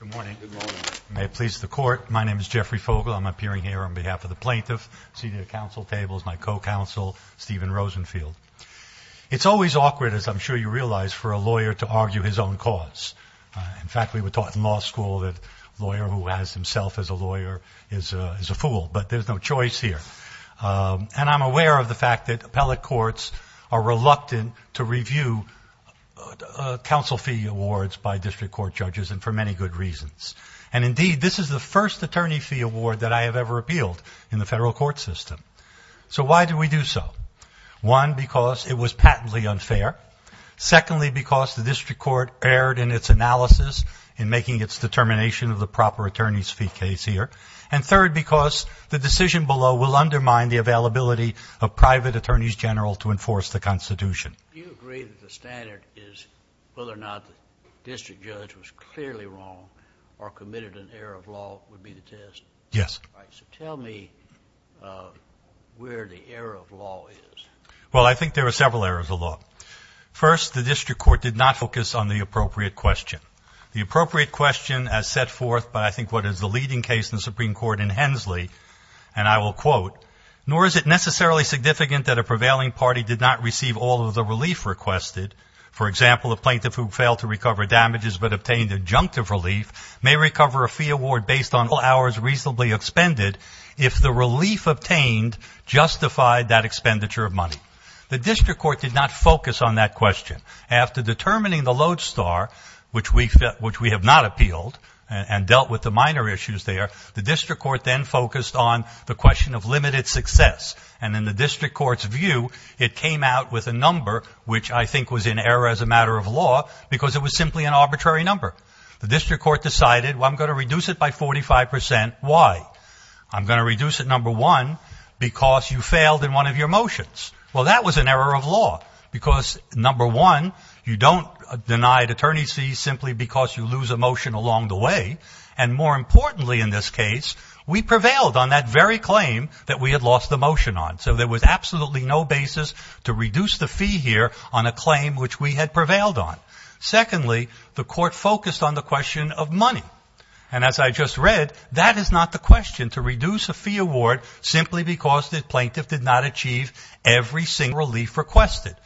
Good morning. May it please the court, my name is Jeffrey Fogle. I'm appearing here on behalf of the plaintiff, seated at the council tables, my co-counsel, Stephen Rosenfield. It's always awkward, as I'm sure you realize, for a lawyer to argue his own cause. In fact, we were taught in law school that a lawyer who has himself as a lawyer is a fool, but there's no choice here. And I'm aware of the fact that appellate courts are reluctant to review council fee awards by district court judges, and for many good reasons. And indeed, this is the first attorney fee award that I have ever appealed in the federal court system. So why do we do so? One, because it was patently unfair. Secondly, because the district court erred in its analysis in making its determination of the proper attorney's fee case here. And third, because the decision below will undermine the availability of private attorneys general to enforce the Constitution. Do you agree that the standard is whether or not the district judge was clearly wrong or committed an error of law would be the test? Yes. So tell me where the error of law is. Well, I think there are several errors of law. First, the district court did not focus on the appropriate question. The appropriate question as set forth by I think what is the leading case in the Supreme Court in Hensley, and I will quote, nor is it necessarily significant that a prevailing party did not receive all of the relief requested. For example, a plaintiff who failed to recover damages but obtained adjunctive relief may recover a fee award based on all hours reasonably expended if the relief obtained justified that expenditure of money. The district court did not focus on that question. After determining the lodestar, which we have not appealed and dealt with the minor issues there, the district court then focused on the question of limited success. And in the district court's view, it came out with a number which I think was in error as a matter of law because it was simply an arbitrary number. The district court decided, well, I'm going to reduce it by 45 percent. Why? I'm going to reduce it, number one, because you failed in one of your motions. Well, that was an error of law because, number one, you don't deny attorney's fees simply because you lose a motion along the way. And more importantly, in this case, we prevailed on that very claim that we had lost the motion on. So there was absolutely no basis to reduce the fee here on a claim which we had prevailed on. Secondly, the court focused on the question of money. And as I just read, that is not the question, to reduce a fee award simply because the plaintiff did not achieve every single relief requested.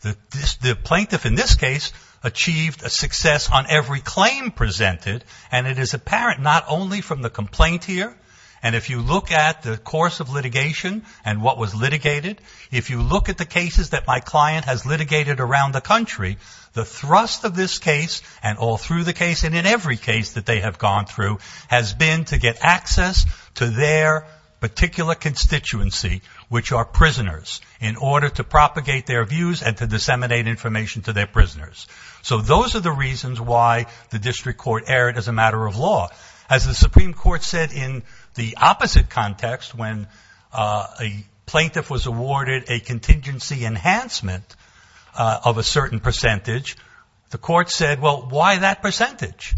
The plaintiff in this case achieved a success on every claim presented. And it is apparent not only from the complaint here, and if you look at the course of litigation and what was litigated, if you look at the cases that my client has litigated around the country, the thrust of this case and all through the case and in every case that they have gone through has been to get access to their particular constituency, which are prisoners, in order to propagate their views and to disseminate information to their prisoners. So those are the reasons why the district court erred as a matter of law. As the Supreme Court said in the opposite context, when a plaintiff was awarded a contingency enhancement of a certain percentage, the court said, well, why that percentage?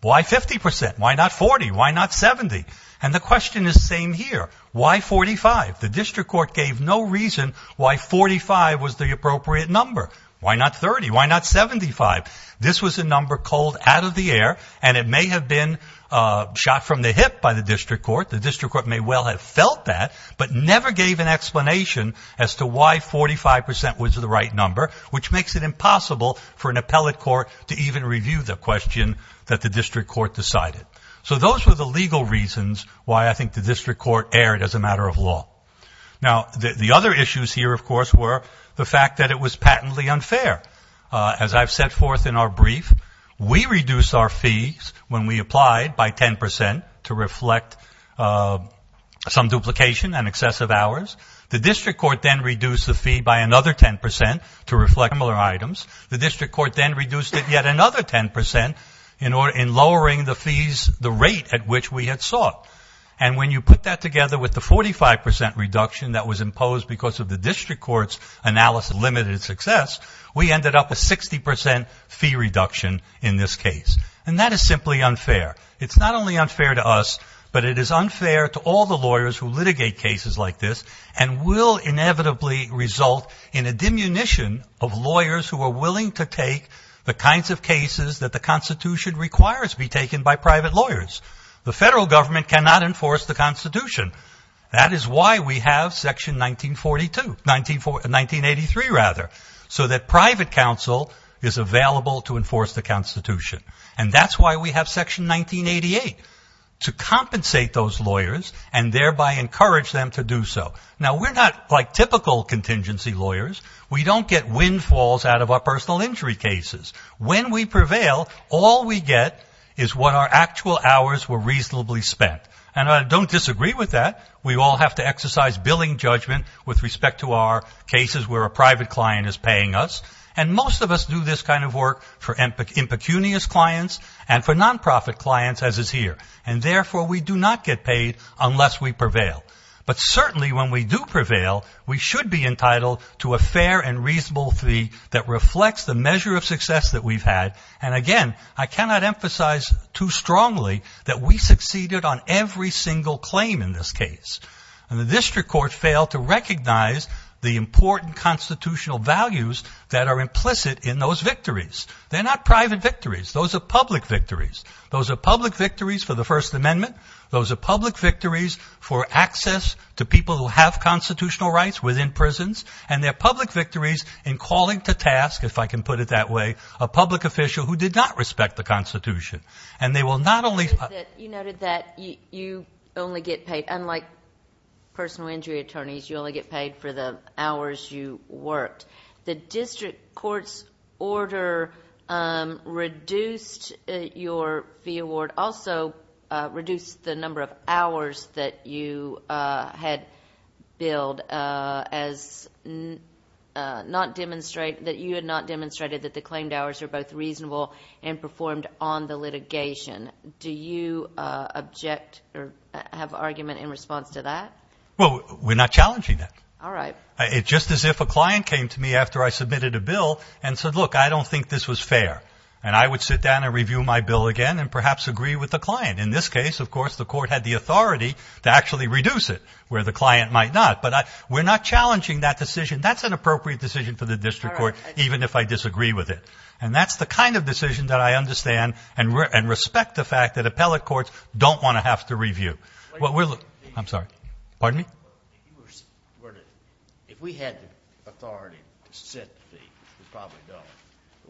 Why 50 percent? Why not 40? Why not 70? And the question is the same here. Why 45? The district court gave no reason why 45 was the appropriate number. Why not 30? Why not 75? This was a number called out of the air, and it may have been shot from the hip by the district court. The district court may well have felt that, but never gave an explanation as to why 45 percent was the right number, which makes it impossible for an appellate court to even review the question that the district court decided. So those were the legal reasons why I think the district court erred as a matter of law. Now, the other issues here, of course, were the fact that it was patently unfair. As I've set forth in our brief, we reduced our fees when we applied by 10 percent to reflect some duplication and excessive hours. The district court then reduced the fee by another 10 percent to reflect similar items. The district court then reduced it yet another 10 percent in lowering the fees, the rate at which we had sought. And when you put that together with the 45 percent reduction that was imposed because of the district court's analysis of limited success, we ended up with 60 percent fee reduction in this case. And that is simply unfair. It's not only unfair to us, but it is unfair to all the lawyers who litigate cases like this and will inevitably result in a diminution of lawyers who are willing to take the kinds of cases that the Constitution requires be taken by private lawyers. The federal government cannot enforce the Constitution. That is why we have Section 1942, 1983 rather, so that private counsel is available to enforce the Constitution. And that's why we have Section 1988, to compensate those lawyers and thereby encourage them to do so. Now, we're not like typical contingency lawyers. We don't get windfalls out of our personal injury cases. When we prevail, all we get is what our actual hours were reasonably spent. And I don't disagree with that. We all have to exercise billing judgment with respect to our cases where a private client is paying us. And most of us do this kind of work for impecunious clients and for nonprofit clients, as is here. And therefore, we do not get paid unless we prevail. But certainly when we do prevail, we should be entitled to a fair and reasonable fee that reflects the measure of success that we've had. And again, I cannot emphasize too strongly that we succeeded on every single claim in this case. And the district court failed to recognize the important constitutional values that are implicit in those victories. They're not private victories. Those are public victories. Those are public victories for the First Amendment. Those are public victories for access to people who have constitutional rights within prisons. And they're public victories in calling to task, if I can put it that way, a public official who did not respect the Constitution. You noted that you only get paid, unlike personal injury attorneys, you only get paid for the hours you worked. The district court's order reduced your fee award, also reduced the number of hours that you had billed, as not demonstrate that you had not demonstrated that the claimed hours are both reasonable and performed on the litigation. Do you object or have argument in response to that? Well, we're not challenging that. All right. It's just as if a client came to me after I submitted a bill and said, look, I don't think this was fair. And I would sit down and review my bill again and perhaps agree with the client. In this case, of course, the court had the authority to actually reduce it where the client might not. But we're not challenging that decision. That's an appropriate decision for the district court, even if I disagree with it. And that's the kind of decision that I understand and respect the fact that appellate courts don't want to have to review. Well, I'm sorry. Pardon me? If we had the authority to set the fee, we probably don't.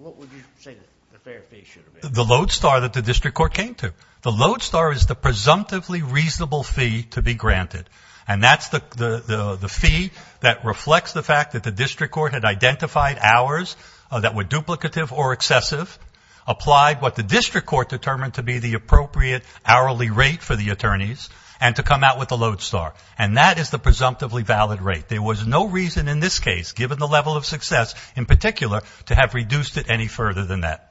What would you say the fair fee should have been? The lodestar that the district court came to. The lodestar is the presumptively reasonable fee to be granted. And that's the fee that reflects the fact that the district court had identified hours that were duplicative or excessive, applied what the district court determined to be the appropriate hourly rate for the attorneys and to come out with a lodestar. And that is the presumptively valid rate. There was no reason in this case, given the level of success in particular, to have reduced it any further than that.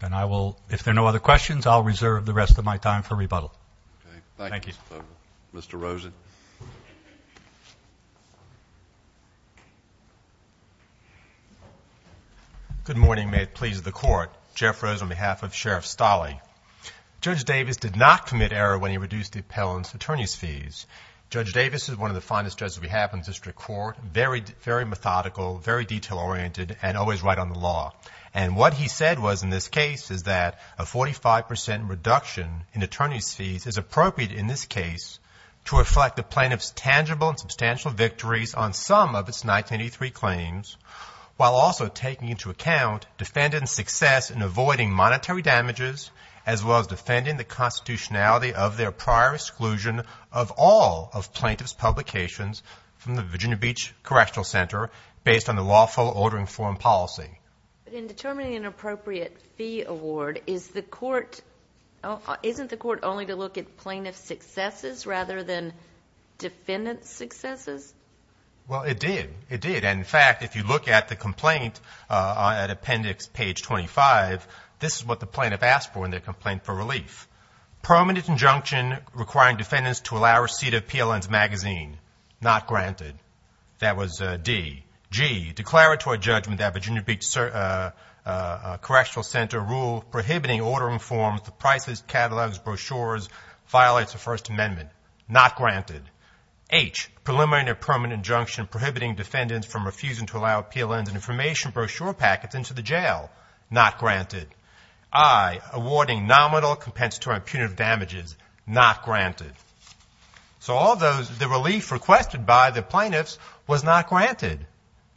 And I will, if there are no other questions, I'll reserve the rest of my time for rebuttal. Okay. Thank you. Thank you. Mr. Rosen. Good morning. May it please the Court. Jeff Rosen on behalf of Sheriff Stolle. Judge Davis did not commit error when he reduced the appellant's attorney's fees. Judge Davis is one of the finest judges we have in the district court. Very methodical, very detail-oriented, and always right on the law. And what he said was in this case is that a 45% reduction in attorney's fees is appropriate in this case to reflect the plaintiff's tangible and substantial victories on some of its 1983 claims while also taking into account defendant's success in avoiding monetary damages as well as defending the constitutionality of their prior exclusion of all of plaintiff's publications from the Virginia Beach Correctional Center based on the lawful ordering form policy. But in determining an appropriate fee award, is the court, isn't the court only to look at plaintiff's successes rather than defendant's successes? Well, it did. It did. And, in fact, if you look at the complaint at appendix page 25, this is what the plaintiff asked for in their complaint for relief. Permanent injunction requiring defendants to allow receipt of PLN's magazine. Not granted. That was D. G. Declaratory judgment that Virginia Beach Correctional Center rule prohibiting ordering forms, the prices, catalogs, brochures, violates the First Amendment. Not granted. H. Preliminary and permanent injunction prohibiting defendants from refusing to allow PLN's information brochure packets into the jail. Not granted. I. Awarding nominal compensatory and punitive damages. Not granted. So all those, the relief requested by the plaintiffs was not granted.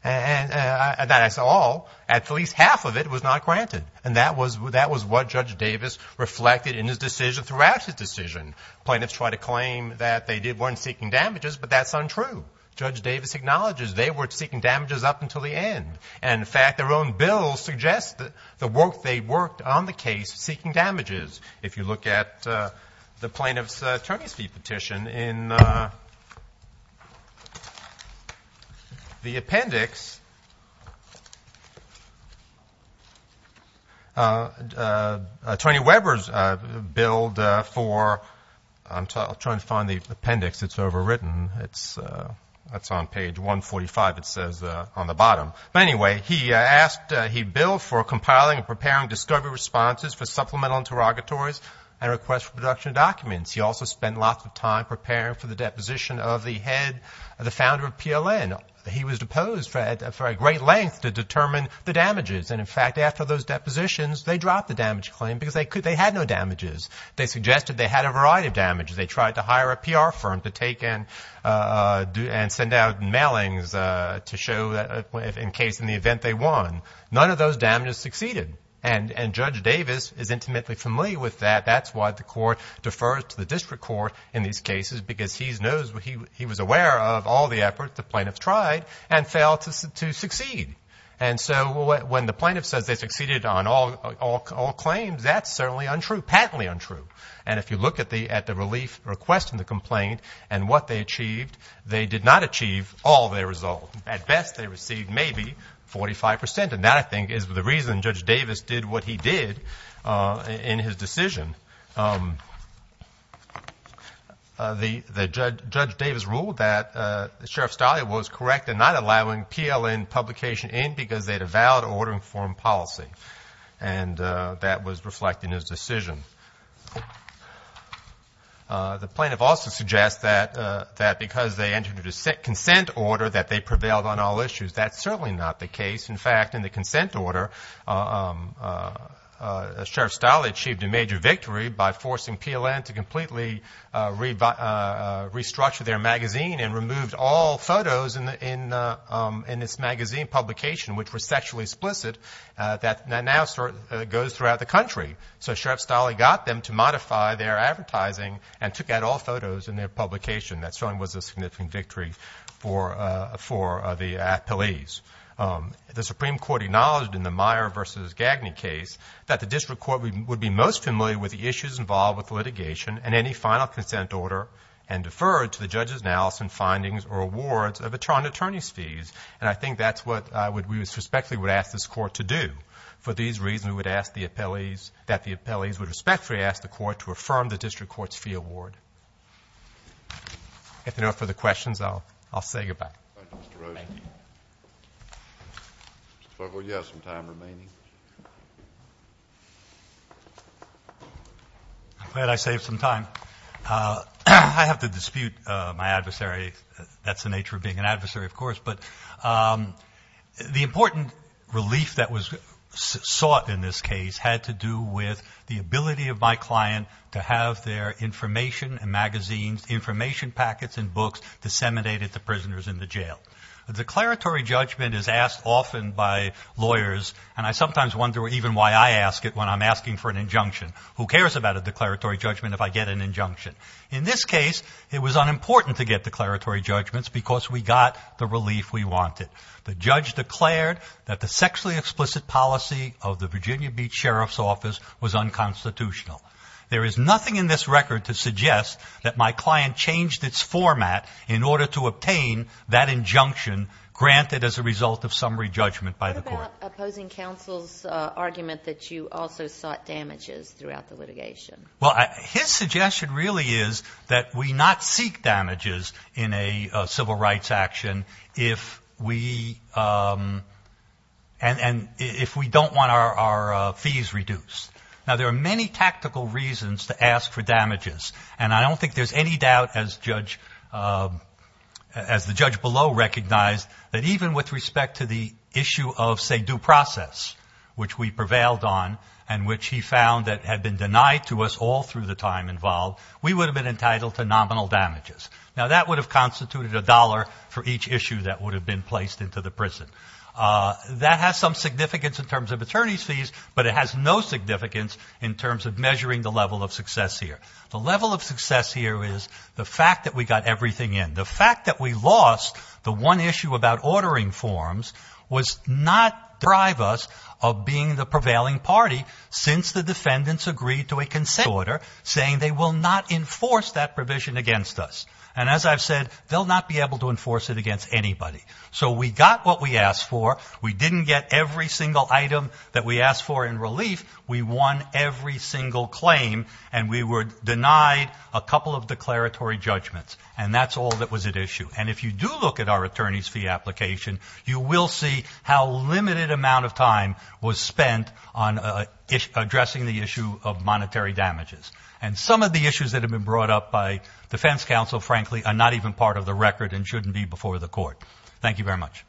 And that's all. At least half of it was not granted. And that was what Judge Davis reflected in his decision throughout his decision. Plaintiffs tried to claim that they weren't seeking damages, but that's untrue. Judge Davis acknowledges they were seeking damages up until the end. And, in fact, their own bill suggests the work they worked on the case seeking damages. If you look at the plaintiff's attorney's fee petition in the appendix, Tony Weber's bill for, I'm trying to find the appendix. It's overwritten. It's on page 145. It says on the bottom. But anyway, he asked, he billed for compiling and preparing discovery responses for supplemental interrogatories and requests for production of documents. He also spent lots of time preparing for the deposition of the head, the founder of PLN. He was deposed for a great length to determine the damages. And, in fact, after those depositions, they dropped the damage claim because they had no damages. They suggested they had a variety of damages. They tried to hire a PR firm to take and send out mailings to show in case in the event they won. None of those damages succeeded. And Judge Davis is intimately familiar with that. That's why the court defers to the district court in these cases because he knows, he was aware of all the efforts the plaintiffs tried and failed to succeed. And so when the plaintiff says they succeeded on all claims, that's certainly untrue, patently untrue. And if you look at the relief request and the complaint and what they achieved, they did not achieve all their results. At best, they received maybe 45 percent. And that, I think, is the reason Judge Davis did what he did in his decision. Judge Davis ruled that Sheriff Stalia was correct in not allowing PLN publication in because they had a valid order in foreign policy. And that was reflected in his decision. The plaintiff also suggests that because they entered a consent order, that they prevailed on all issues. That's certainly not the case. In fact, in the consent order, Sheriff Stalia achieved a major victory by forcing PLN to completely restructure their magazine and removed all photos in its magazine publication, which was sexually explicit. That now goes throughout the country. So Sheriff Stalia got them to modify their advertising and took out all photos in their publication. That certainly was a significant victory for the police. The Supreme Court acknowledged in the Meyer v. Gagne case that the district court would be most familiar with the issues involved with litigation and any final consent order and deferred to the judges' analysis and findings or awards of attorneys' fees. And I think that's what we respectfully would ask this Court to do. For these reasons, we would ask that the appellees would respectfully ask the Court to affirm the district court's fee award. If there are no further questions, I'll say goodbye. Thank you, Mr. Rosen. Thank you. Mr. Farquhar, you have some time remaining. Thank you. I'm glad I saved some time. I have to dispute my adversary. That's the nature of being an adversary, of course. But the important relief that was sought in this case had to do with the ability of my client to have their information and magazines, The declaratory judgment is asked often by lawyers, and I sometimes wonder even why I ask it when I'm asking for an injunction. Who cares about a declaratory judgment if I get an injunction? In this case, it was unimportant to get declaratory judgments because we got the relief we wanted. The judge declared that the sexually explicit policy of the Virginia Beach Sheriff's Office was unconstitutional. There is nothing in this record to suggest that my client changed its format in order to obtain that injunction granted as a result of summary judgment by the Court. What about opposing counsel's argument that you also sought damages throughout the litigation? Well, his suggestion really is that we not seek damages in a civil rights action if we don't want our fees reduced. Now, there are many tactical reasons to ask for damages, and I don't think there's any doubt, as the judge below recognized, that even with respect to the issue of, say, due process, which we prevailed on and which he found that had been denied to us all through the time involved, we would have been entitled to nominal damages. Now, that would have constituted a dollar for each issue that would have been placed into the prison. That has some significance in terms of attorneys' fees, but it has no significance in terms of measuring the level of success here. The level of success here is the fact that we got everything in. The fact that we lost the one issue about ordering forms was not to deprive us of being the prevailing party since the defendants agreed to a consent order saying they will not enforce that provision against us. And as I've said, they'll not be able to enforce it against anybody. So we got what we asked for. We didn't get every single item that we asked for in relief. We won every single claim, and we were denied a couple of declaratory judgments, and that's all that was at issue. And if you do look at our attorneys' fee application, you will see how a limited amount of time was spent on addressing the issue of monetary damages. And some of the issues that have been brought up by defense counsel, frankly, are not even part of the record and shouldn't be before the court. Thank you very much.